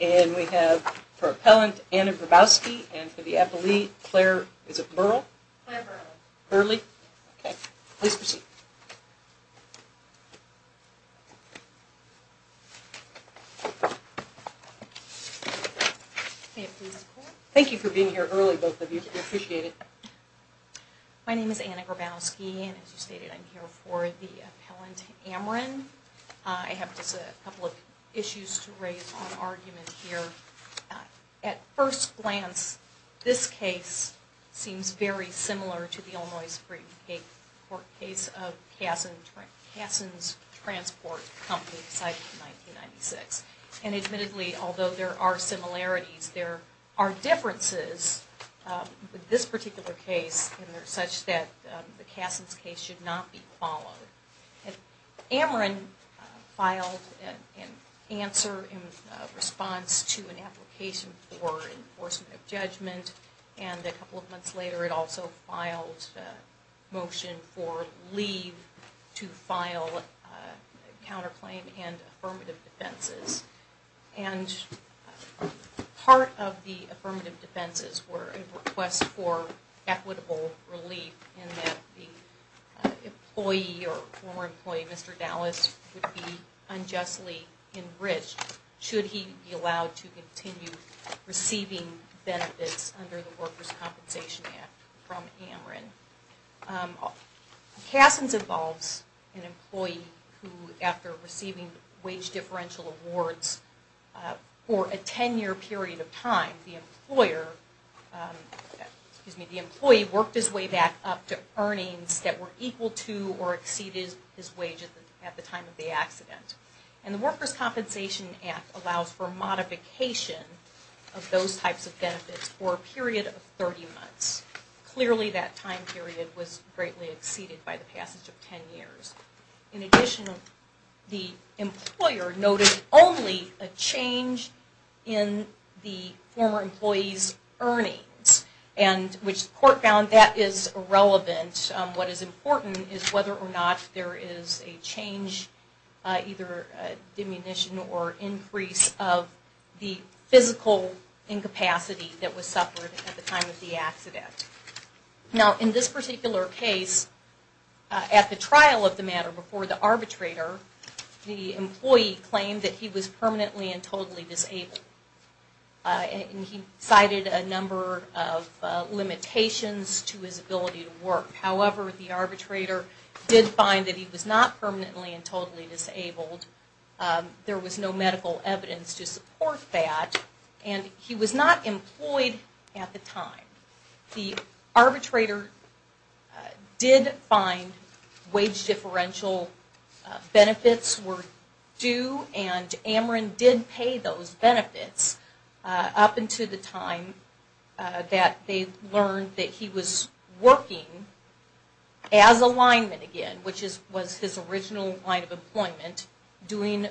and we have for appellant Anna Grabowski and for the appellee Claire, is it Burl? Claire Burle. Burle? Okay, please proceed. Thank you for being here early both of you, we appreciate it. My name is Anna Grabowski and as you stated I'm here for the appellant Ameren. I have just a couple of issues to raise on argument here. At first glance this case seems very similar to the Illinois Supreme Court case of Kasson's Transport Company. And admittedly, although there are similarities, there are differences with this particular case such that the Kasson's case should not be followed. Ameren filed an answer in response to an application for enforcement of judgment and a couple of months later it also filed a motion for leave to file a counterclaim. And part of the affirmative defenses were a request for equitable relief in that the employee or former employee, Mr. Dallas, would be unjustly enriched should he be allowed to continue receiving benefits under the Workers' Compensation Act from Ameren. Kasson's involves an employee who after receiving wage differential awards for a 10 year period of time, the employer, excuse me, the employee worked his way back up to earnings that were equal to or exceeded his wage at the time of the accident. And the Workers' Compensation Act allows for modification of those types of benefits for a period of 30 months. Clearly that time period was greatly exceeded by the passage of 10 years. In addition, the employer noted only a change in the former employee's earnings and which the court found that is irrelevant. What is important is whether or not there is a change, either a diminution or increase of the physical incapacity that was suffered at the time of the accident. Now in this particular case, at the trial of the matter before the arbitrator, the employee claimed that he was permanently and totally disabled. He cited a number of limitations to his ability to work. However, the arbitrator did find that he was not permanently and totally disabled. There was no medical evidence to support that and he was not employed at the time. The arbitrator did find wage differential benefits were due and Ameren did pay those benefits up until the time that they learned that he was working as a lineman again, which was his original line of employment, doing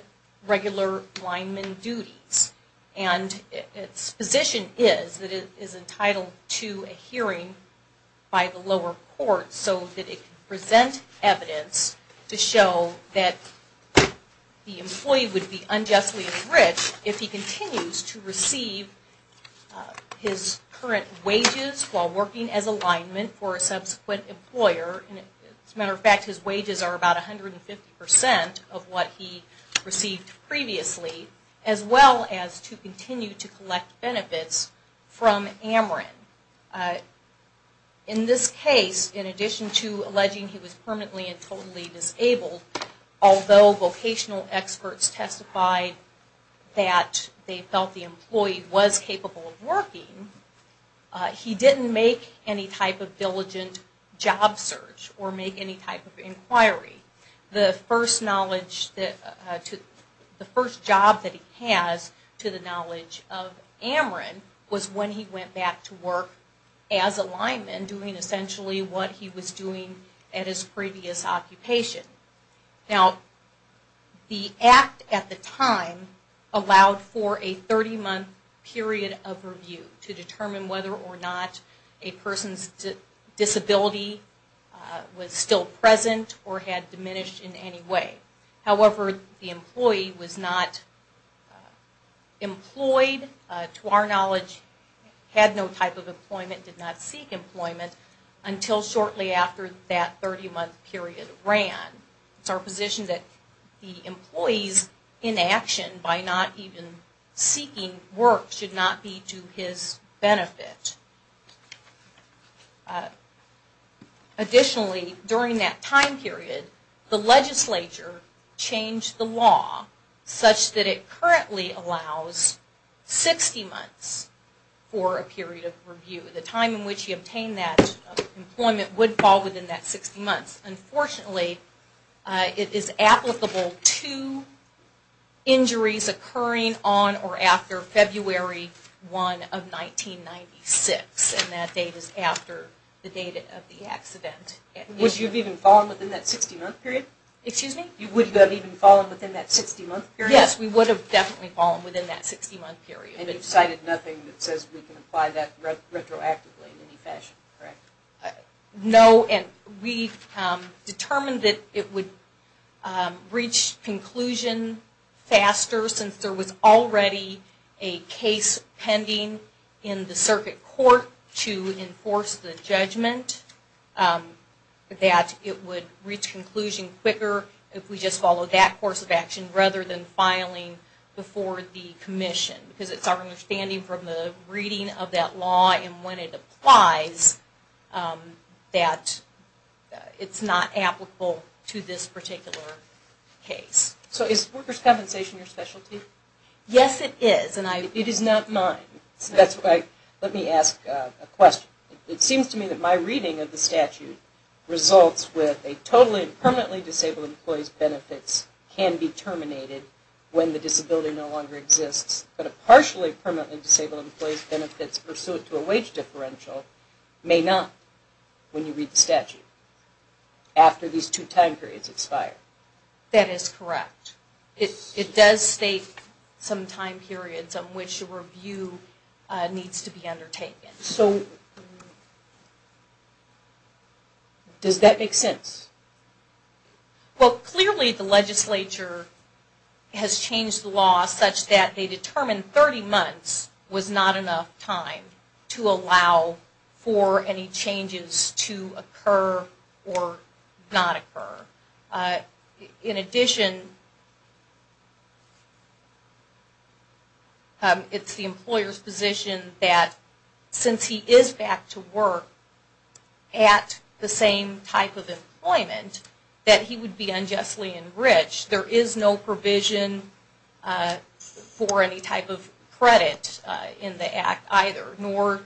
regular lineman duties. And its position is that it is entitled to a hearing by the lower court so that it can present evidence to show that the employee would be unjustly enriched if he continues to receive his current wages while working as a lineman for a subsequent employer. As a matter of fact, his wages are about 150% of what he received previously, as well as to continue to collect benefits from Ameren. In this case, in addition to alleging he was permanently and totally disabled, although vocational experts testified that they felt the employee was capable of working, he didn't make any type of diligent job search. Or make any type of inquiry. The first job that he has to the knowledge of Ameren was when he went back to work as a lineman doing essentially what he was doing at his previous occupation. Now, the act at the time allowed for a 30-month period of review to determine whether or not a person's disability was still present or had diminished in any way. However, the employee was not employed, to our knowledge, had no type of employment, did not seek employment until shortly after that 30-month period ran. It's our position that the employee's inaction by not even seeking work should not be to his benefit. Additionally, during that time period, the legislature changed the law such that it currently allows 60 months for a period of review. The time in which he obtained that employment would fall within that 60 months. Unfortunately, it is applicable to injuries occurring on or after February 1 of 1996, and that date is after the date of the accident. Would you have even fallen within that 60-month period? Excuse me? Would you have even fallen within that 60-month period? Yes, we would have definitely fallen within that 60-month period. And you've cited nothing that says we can apply that retroactively in any fashion, correct? No, and we've determined that it would reach conclusion faster since there was already a case pending in the circuit court to enforce the judgment, that it would reach conclusion quicker if we just followed that course of action rather than filing before the commission. Because it's our understanding from the reading of that law and when it applies that it's not applicable to this particular case. So is workers' compensation your specialty? Yes, it is, and it is not mine. Let me ask a question. It seems to me that my reading of the statute results with a totally and permanently disabled employee's benefits can be terminated when the disability no longer exists, but a partially permanently disabled employee's benefits pursuant to a wage differential may not when you read the statute after these two time periods expire. That is correct. It does state some time periods on which a review needs to be undertaken. So does that make sense? Well, clearly the legislature has changed the law such that they determined 30 months was not enough time to allow for any changes to occur or not occur. In addition, it's the employer's position that since he is back to work at the same type of employment that he would be unjustly enriched. There is no provision for any type of credit in the act either, nor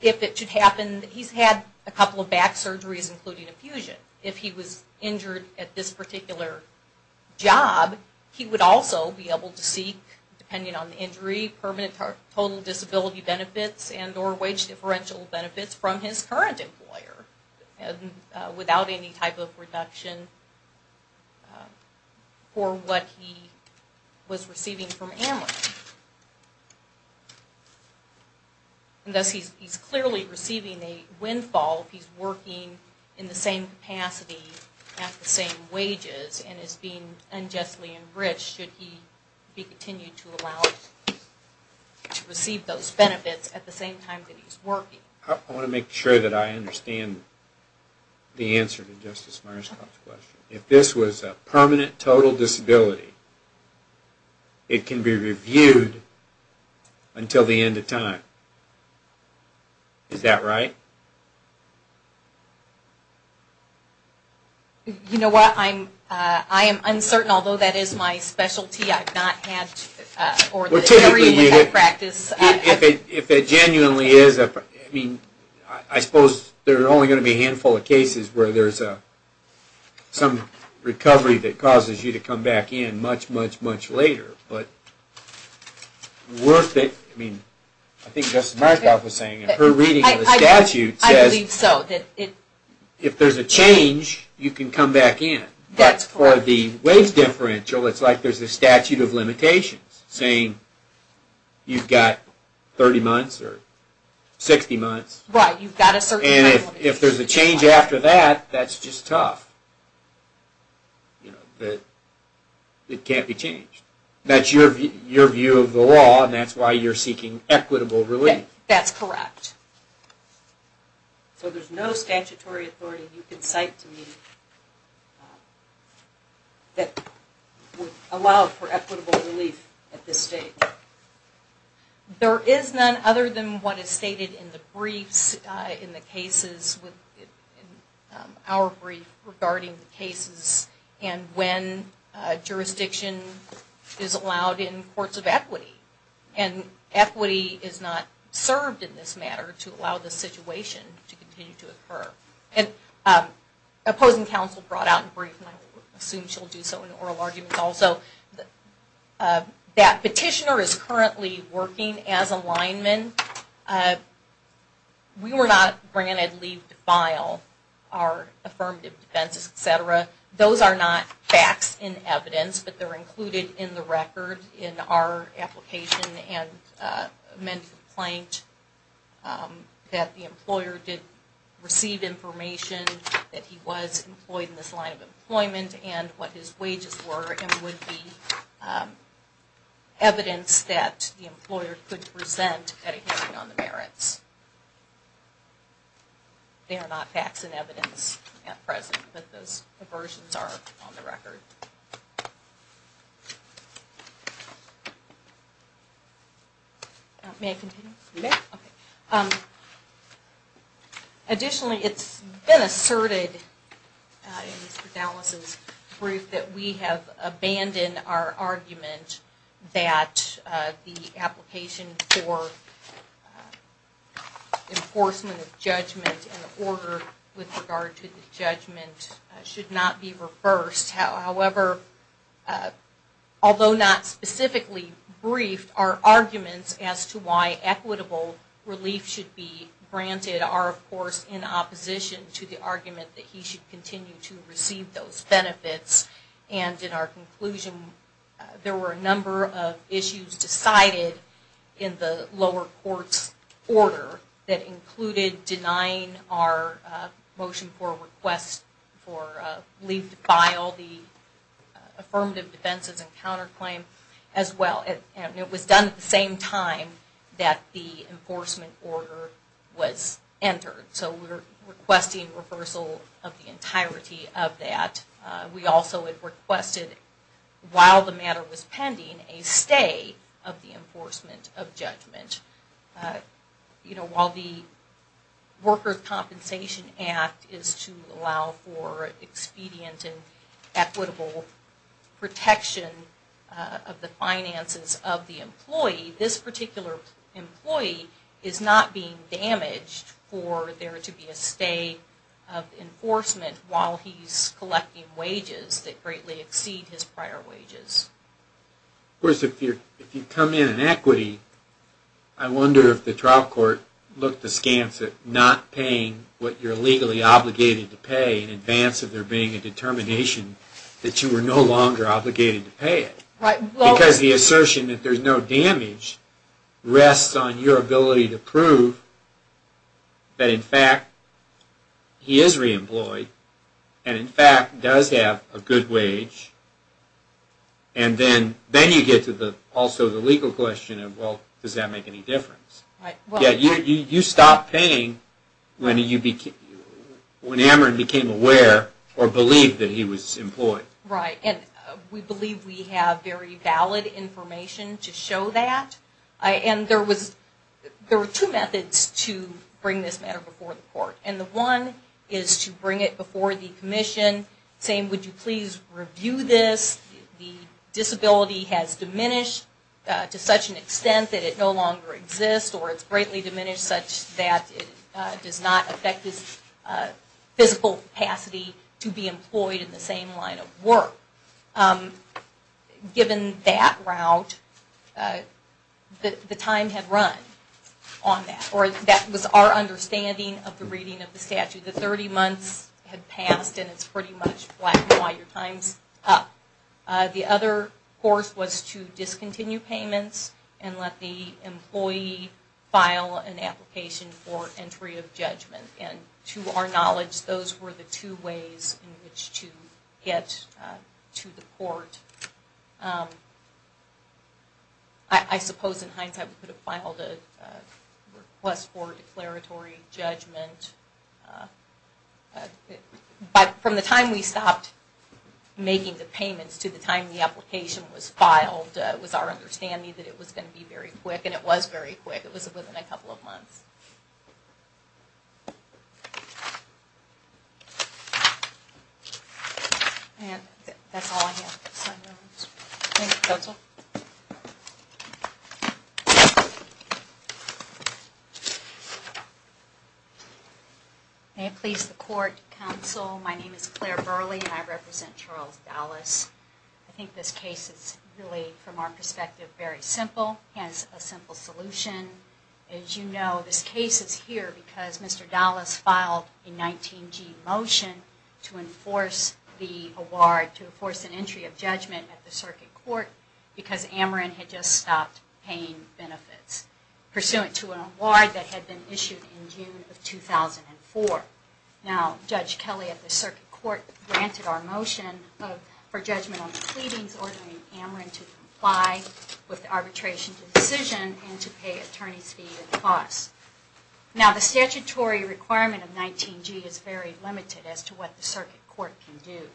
if it should happen, he's had a couple of back surgeries including infusion. If he was injured at this particular job, he would also be able to seek, depending on the injury, permanent total disability benefits and or wage differential benefits from his current employer. Without any type of reduction for what he was receiving from Amrit. And thus he's clearly receiving a windfall if he's working in the same capacity at the same wages and is being unjustly enriched should he be continued to receive those benefits at the same time that he's working. I want to make sure that I understand the answer to Justice Myers' question. If this was a permanent total disability, it can be reviewed until the end of time. Is that right? You know what, I am uncertain, although that is my specialty. Well, typically, if it genuinely is, I suppose there are only going to be a handful of cases where there is some recovery that causes you to come back in much, much, much later. I think Justice Myers was saying in her reading of the statute, if there is a change, you can come back in. But for the wage differential, it's like there is a statute of limitations saying you've got 30 months or 60 months, and if there is a change after that, that's just tough. It can't be changed. That's your view of the law, and that's why you're seeking equitable relief. That's correct. So there's no statutory authority you can cite to me that would allow for equitable relief at this stage. There is none other than what is stated in the briefs, in the cases, in our brief regarding the cases and when jurisdiction is allowed in courts of equity. And equity is not served in this matter to allow this situation to continue to occur. Opposing counsel brought out in brief, and I assume she'll do so in oral arguments also, that petitioner is currently working as a lineman. We were not granted leave to file our affirmative defense, etc. Those are not facts and evidence, but they're included in the record in our application and amended complaint that the employer did receive information that he was employed in this line of employment and what his wages were and would be evidence that the employer could present at a hearing on the merits. They are not facts and evidence at present, but those versions are on the record. May I continue? You may. Additionally, it's been asserted in Mr. Dallas' brief that we have abandoned our argument that the application for enforcement of judgment in order with regard to the judgment should not be reversed. However, although not specifically briefed, our arguments as to why equitable relief should be granted are, of course, in opposition to the argument that he should continue to receive those benefits. In our conclusion, there were a number of issues decided in the lower court's order that included denying our motion for a request for leave to file the affirmative defenses and counterclaim as well. It was done at the same time that the enforcement order was entered, so we're requesting reversal of the entirety of that. We also requested, while the matter was pending, a stay of the enforcement of judgment. While the Workers' Compensation Act is to allow for expedient and equitable protection of the finances of the employee, this particular employee is not being damaged for there to be a stay of enforcement while he's collecting wages that greatly exceed his prior wages. Of course, if you come in in equity, I wonder if the trial court looked askance at not paying what you're legally obligated to pay in advance of there being a determination that you are no longer obligated to pay it. Because the assertion that there's no damage rests on your ability to prove that, in fact, he is reemployed and, in fact, does have a good wage. And then you get to also the legal question of, well, does that make any difference? Yet, you stopped paying when Ameren became aware or believed that he was employed. Right. And we believe we have very valid information to show that. And there were two methods to bring this matter before the court. And the one is to bring it before the commission saying, would you please review this? The disability has diminished to such an extent that it no longer exists or it's greatly diminished such that it does not affect his physical capacity to be employed in the same line of work. Given that route, the time had run on that or that was our understanding of the reading of the statute. The 30 months had passed and it's pretty much black and white. Your time's up. The other course was to discontinue payments and let the employee file an application for entry of judgment. And to our knowledge, those were the two ways in which to get to the court. I suppose, in hindsight, we could have filed a request for declaratory judgment. But from the time we stopped making the payments to the time the application was filed, it was our understanding that it was going to be very quick. And it was very quick. It was within a couple of months. May it please the court, counsel, my name is Claire Burley and I represent Charles Dallas. I think this case is really, from our perspective, very simple. It has a simple solution. As you know, this case is here because Mr. Dallas filed a 19-G motion to enforce the award, to enforce an entry of judgment at the circuit court because Ameren had just stopped paying benefits. Pursuant to an award that had been issued in June of 2004. Now, Judge Kelly at the circuit court granted our motion for judgment on the pleadings ordering Ameren to comply with the arbitration decision and to pay attorney's fees and costs. Now, the statutory requirement of 19-G is very limited as to what the circuit court can do.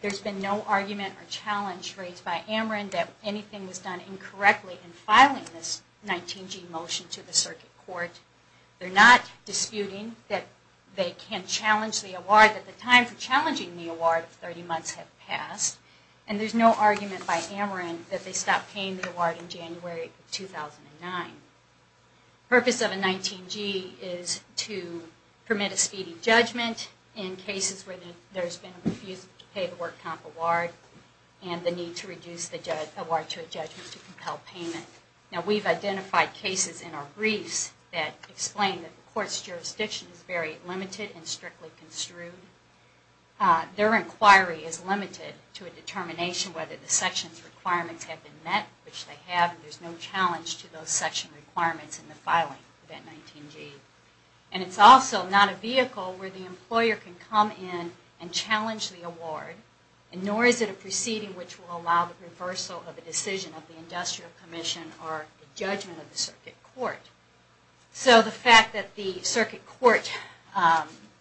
There's been no argument or challenge raised by Ameren that anything was done incorrectly in filing this 19-G motion to the circuit court. They're not disputing that they can challenge the award, that the time for challenging the award of 30 months had passed. And there's no argument by Ameren that they stopped paying the award in January of 2009. The purpose of a 19-G is to permit a speedy judgment in cases where there's been a refusal to pay the work comp award and the need to reduce the award to a judgment to compel payment. Now, we've identified cases in our briefs that explain that the court's jurisdiction is very limited and strictly construed. Their inquiry is limited to a determination whether the section's requirements have been met, which they have, and there's no challenge to those section requirements in the filing of that 19-G. And it's also not a vehicle where the employer can come in and challenge the award, and nor is it a proceeding which will allow the reversal of a decision of the industrial commission or the judgment of the circuit court. So the fact that the circuit court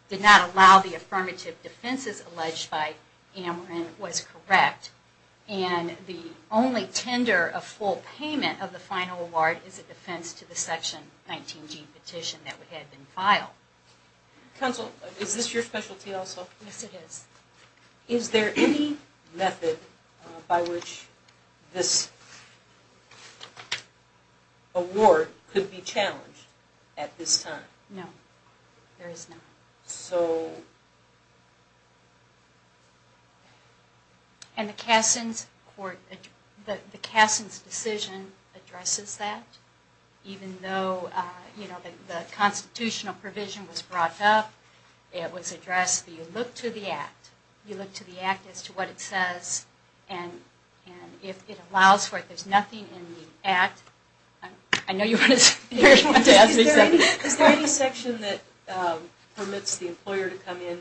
did not allow the affirmative defenses alleged by Ameren was correct, and the only tender of full payment of the final award is a defense to the section 19-G petition that had been filed. Counsel, is this your specialty also? Yes, it is. Is there any method by which this award could be challenged at this time? No, there is not. And the Kasson's court, the Kasson's decision addresses that, even though, you know, the constitutional provision was brought up. It was addressed that you look to the act. You look to the act as to what it says, and if it allows for it. There's nothing in the act. I know you want to ask me something. Is there any section that permits the employer to come in,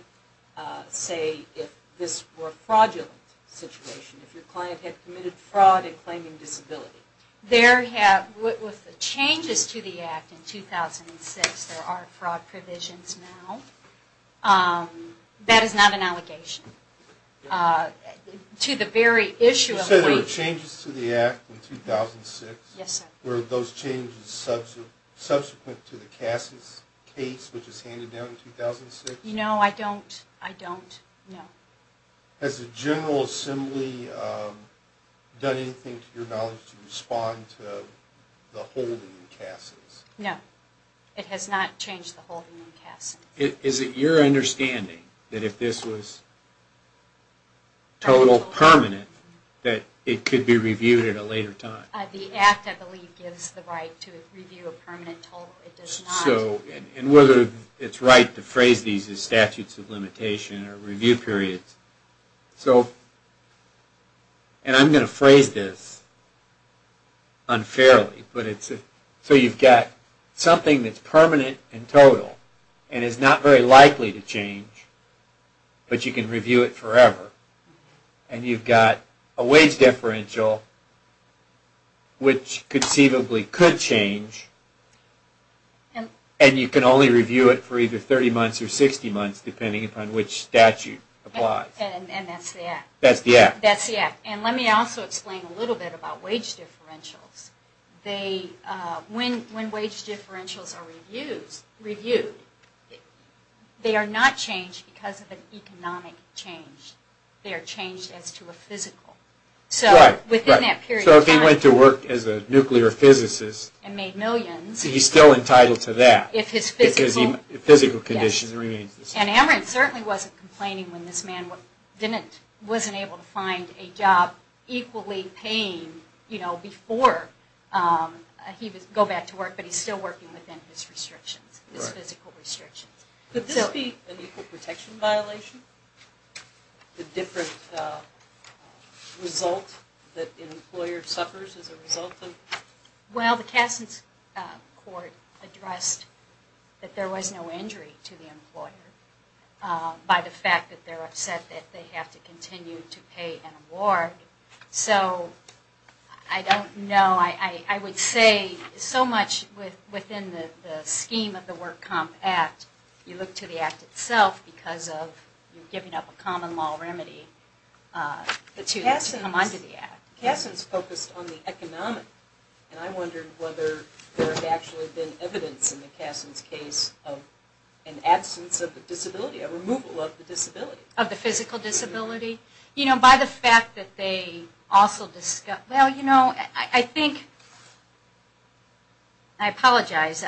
say, if this were a fraudulent situation, if your client had committed fraud in claiming disability? There have, with the changes to the act in 2006, there are fraud provisions now. That is not an allegation. To the very issue of the way... You said there were changes to the act in 2006? Yes, sir. Were those changes subsequent to the Kasson's case, which was handed down in 2006? No, I don't know. Has the General Assembly done anything to your knowledge to respond to the holding in Kasson's? No. It has not changed the holding in Kasson's. Is it your understanding that if this was total permanent, that it could be reviewed at a later time? The act, I believe, gives the right to review a permanent total. It does not... And whether it's right to phrase these as statutes of limitation or review periods. So... And I'm going to phrase this unfairly. So you've got something that's permanent and total, and is not very likely to change, but you can review it forever. And you've got a wage differential, which conceivably could change, and you can only review it for either 30 months or 60 months, depending on which statute applies. And that's the act? That's the act. That's the act. And let me also explain a little bit about wage differentials. When wage differentials are reviewed, they are not changed because of an economic change. They are changed as to a physical. So within that period of time... So if he went to work as a nuclear physicist... And made millions... He's still entitled to that. If his physical condition remains the same. And Amarant certainly wasn't complaining when this man wasn't able to find a job equally paying before he would go back to work, but he's still working within his restrictions, his physical restrictions. Could this be an equal protection violation? The different result that an employer suffers as a result of... Well, the Kasson's court addressed that there was no injury to the employer by the fact that they're upset that they have to continue to pay an award. So I don't know. I would say so much within the scheme of the Work Comp Act, you look to the act itself because of giving up a common law remedy to come under the act. Kasson's focused on the economic. And I wondered whether there had actually been evidence in the Kasson's case of an absence of the disability, a removal of the disability. Of the physical disability? You know, by the fact that they also discussed... Well, you know, I think... I apologize.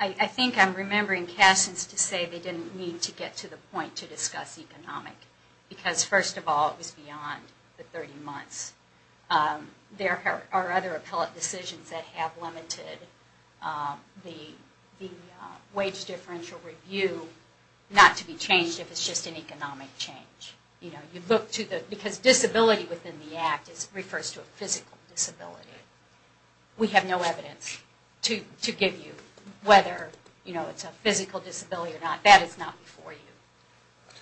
I think I'm remembering Kasson's to say they didn't need to get to the point to discuss economic. Because, first of all, it was beyond the 30 months. There are other appellate decisions that have limited the wage differential review not to be changed if it's just an economic change. Because disability within the act refers to a physical disability. We have no evidence to give you whether it's a physical disability or not. That is not before you.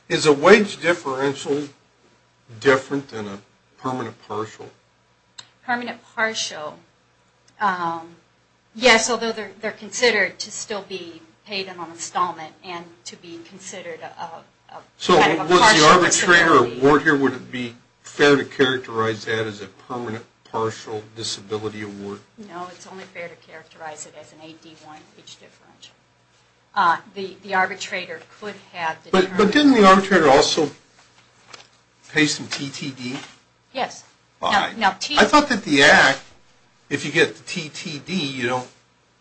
Is a wage differential different than a permanent partial? Permanent partial? Yes, although they're considered to still be paid in on installment and to be considered kind of a partial disability. So would the arbitrator award here, would it be fair to characterize that as a permanent partial disability award? No, it's only fair to characterize it as an AD1 wage differential. The arbitrator could have... But didn't the arbitrator also pay some TTD? Yes. I thought that the act, if you get the TTD,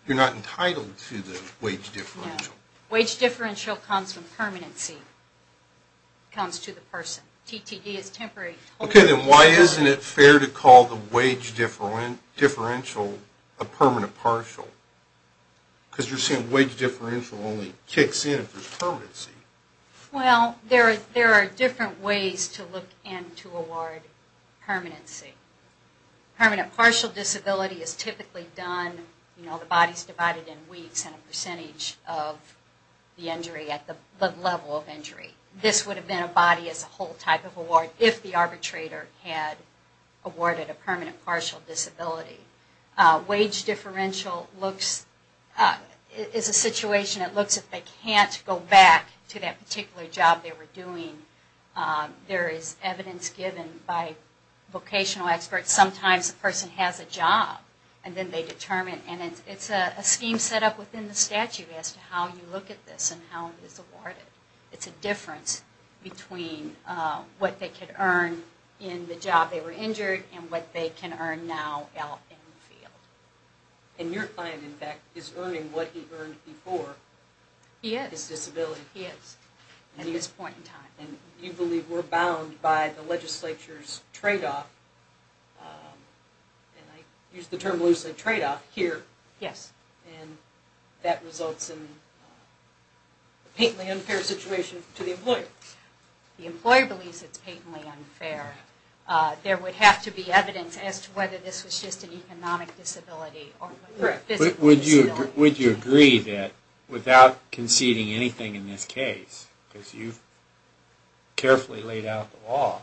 you're not entitled to the wage differential. Wage differential comes from permanency. It comes to the person. TTD is temporary. Okay, then why isn't it fair to call the wage differential a permanent partial? Because you're saying wage differential only kicks in if there's permanency. Well, there are different ways to look and to award permanency. Permanent partial disability is typically done, you know, the body's divided in weeks and a percentage of the injury at the level of injury. This would have been a body as a whole type of award if the arbitrator had awarded a permanent partial disability. Wage differential is a situation that looks if they can't go back to that particular job they were doing. There is evidence given by vocational experts. Sometimes a person has a job and then they determine, and it's a scheme set up within the statute as to how you look at this and how it is awarded. It's a difference between what they could earn in the job they were injured and what they can earn now out in the field. And your client, in fact, is earning what he earned before. He is. His disability. He is at this point in time. And you believe we're bound by the legislature's tradeoff, and I use the term loosely, tradeoff, here. Yes. And that results in a patently unfair situation to the employer. The employer believes it's patently unfair. There would have to be evidence as to whether this was just an economic disability or a physical disability. Would you agree that without conceding anything in this case, because you've carefully laid out the law,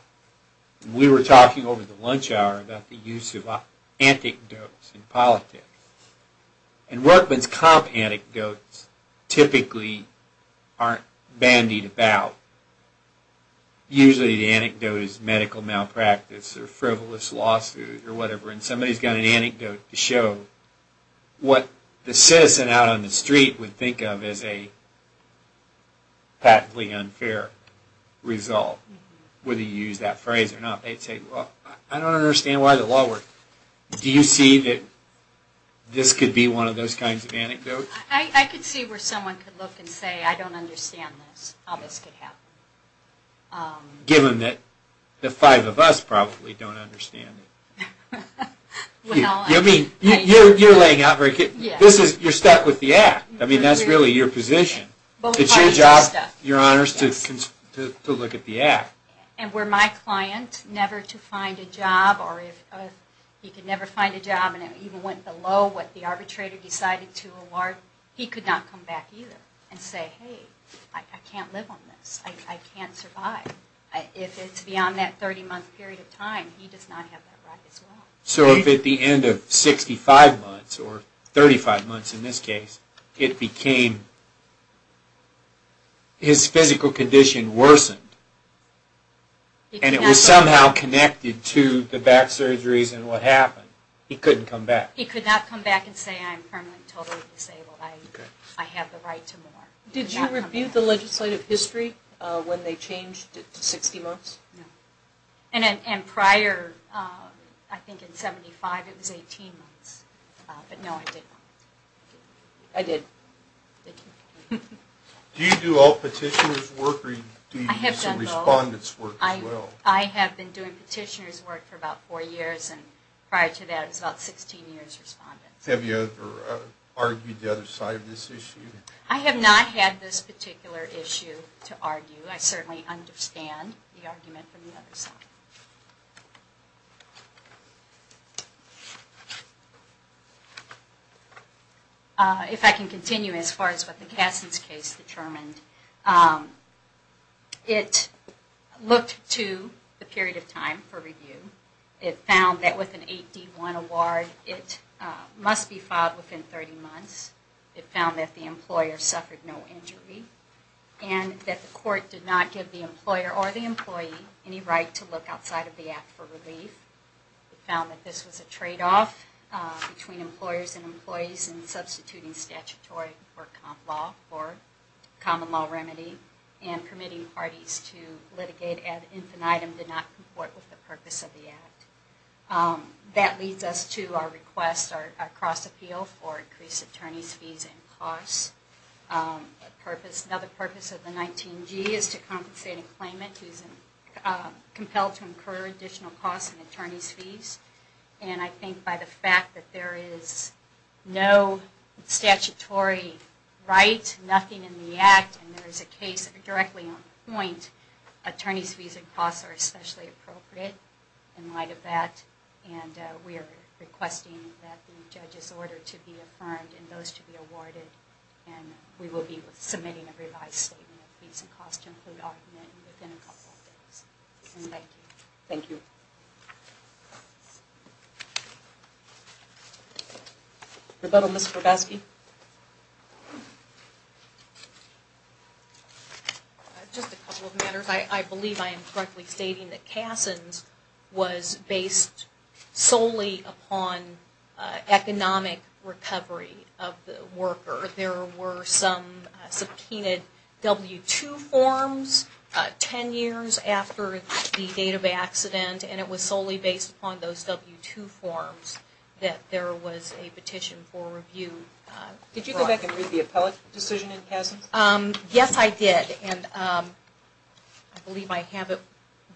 we were talking over the lunch hour about the use of anecdotes in politics. And workman's comp anecdotes typically aren't bandied about. Usually the anecdote is medical malpractice or frivolous lawsuits or whatever, and somebody's got an anecdote to show what the citizen out on the street would think of as a patently unfair result, whether you use that phrase or not. They'd say, well, I don't understand why the law works. Do you see that this could be one of those kinds of anecdotes? I could see where someone could look and say, I don't understand this. All this could happen. Given that the five of us probably don't understand it. You're laying out very good. You're stuck with the Act. That's really your position. It's your job, Your Honors, to look at the Act. And were my client never to find a job, or if he could never find a job and it even went below what the arbitrator decided to award, he could not come back either and say, hey, I can't live on this. I can't survive. If it's beyond that 30-month period of time, he does not have that right as well. So if at the end of 65 months, or 35 months in this case, it became his physical condition worsened, and it was somehow connected to the back surgeries and what happened, he couldn't come back? He could not come back and say, I'm permanently totally disabled. I have the right to more. Did you review the legislative history when they changed it to 60 months? No. And prior, I think in 75, it was 18 months. But no, I didn't. I did. Thank you. Do you do all petitioner's work, or do you do some respondent's work as well? I have been doing petitioner's work for about four years, and prior to that, I was about 16 years respondent. Have you ever argued the other side of this issue? I have not had this particular issue to argue. I certainly understand the argument from the other side. If I can continue as far as what the Kasson's case determined, it looked to the period of time for review. It found that with an 8D1 award, it must be filed within 30 months. It found that the employer suffered no injury and that the court did not give the employer or the employee any right to look outside of the act for relief. It found that this was a tradeoff between employers and employees in substituting statutory or common law remedy and permitting parties to litigate ad infinitum and did not comport with the purpose of the act. That leads us to our request, our cross appeal, for increased attorney's fees and costs. Another purpose of the 19G is to compensate a claimant who is compelled to incur additional costs and attorney's fees. And I think by the fact that there is no statutory right, nothing in the act, and there is a case directly on the point, attorney's fees and costs are especially appropriate in light of that. And we are requesting that the judge's order to be affirmed and those to be awarded. And we will be submitting a revised statement of fees and costs to include argument within a couple of days. And thank you. Thank you. Rebuttal, Ms. Korbesky. Just a couple of matters. I believe I am correctly stating that Kasson's was based solely upon economic recovery of the worker. There were some subpoenaed W-2 forms ten years after the date of the accident and it was solely based upon those W-2 forms that there was a petition for review. Did you go back and read the appellate decision in Kasson's? Yes, I did. I believe I have it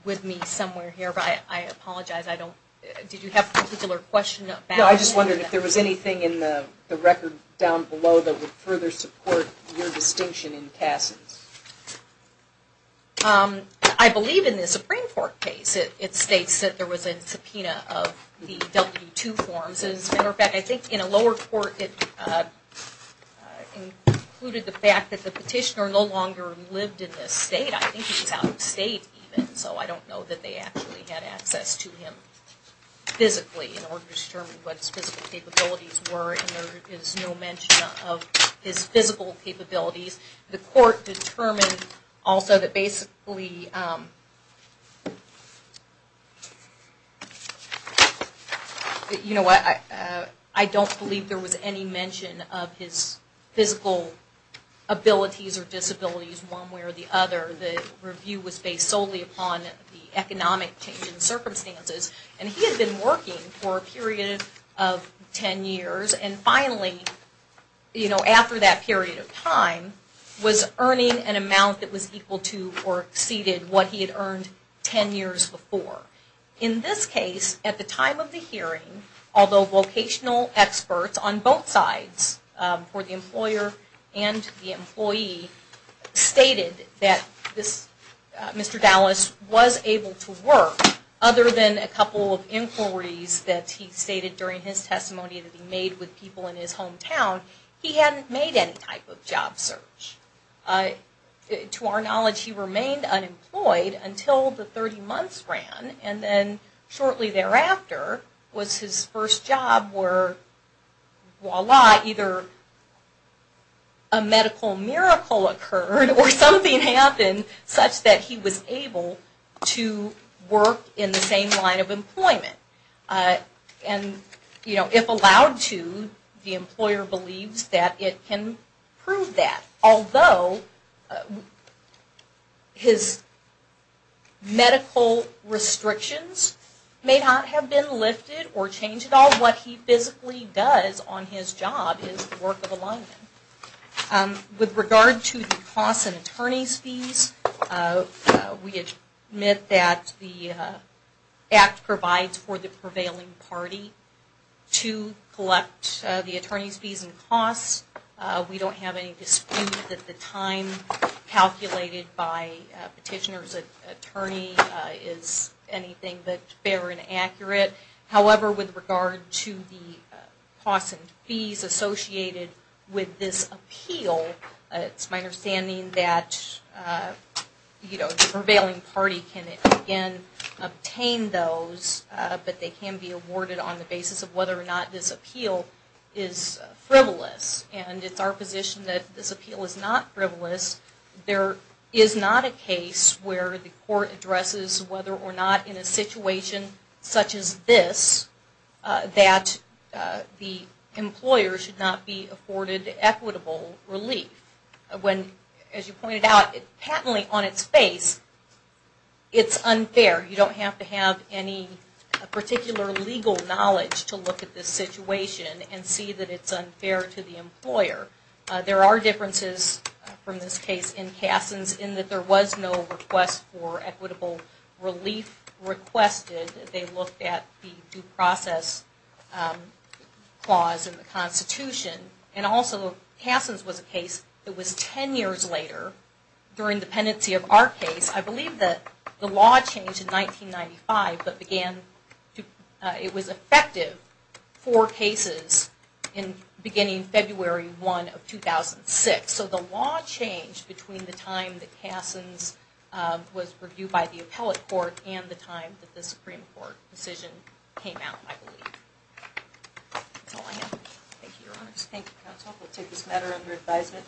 with me somewhere here, but I apologize. Did you have a particular question about that? No, I just wondered if there was anything in the record down below that would further support your distinction in Kasson's. I believe in the Supreme Court case it states that there was a subpoena of the W-2 forms. As a matter of fact, I think in a lower court it included the fact that the petitioner no longer lived in this state. I think he was out of state even, so I don't know that they actually had access to him physically in order to determine what his physical capabilities were. And there is no mention of his physical capabilities. The court determined also that basically... You know what, I don't believe there was any mention of his physical abilities or disabilities one way or the other. The review was based solely upon the economic change in circumstances and he had been working for a period of ten years. And finally, after that period of time, was earning an amount that was equal to or exceeded what he had earned ten years before. In this case, at the time of the hearing, although vocational experts on both sides, for the employer and the employee, stated that Mr. Dallas was able to work, other than a couple of inquiries that he stated during his testimony that he made with people in his hometown, he hadn't made any type of job search. To our knowledge, he remained unemployed until the 30 months ran, and then shortly thereafter was his first job where, voila, either a medical miracle occurred or something happened such that he was able to work in the same line of employment. And if allowed to, the employer believes that it can prove that. Although his medical restrictions may not have been lifted or changed at all, what he physically does on his job is the work of a lineman. With regard to the costs and attorney's fees, we admit that the Act provides for the prevailing party to collect the attorney's fees and costs. We don't have any dispute that the time calculated by a petitioner's attorney is anything but fair and accurate. However, with regard to the costs and fees associated with this appeal, it's my understanding that the prevailing party can, again, obtain those, but they can be awarded on the basis of whether or not this appeal is frivolous. And it's our position that this appeal is not frivolous. There is not a case where the court addresses whether or not in a situation such as this that the employer should not be afforded equitable relief. As you pointed out, patently on its face, it's unfair. You don't have to have any particular legal knowledge to look at this situation and see that it's unfair to the employer. There are differences from this case in Kasson's in that there was no request for equitable relief requested. They looked at the due process clause in the Constitution. And also, Kasson's was a case that was ten years later during the pendency of our case. I believe that the law changed in 1995, but it was effective four cases beginning February 1 of 2006. So the law changed between the time that Kasson's was reviewed by the appellate court and the time that the Supreme Court decision came out, I believe. That's all I have. Thank you, Your Honors. Thank you, Counsel. We'll take this matter under advisement.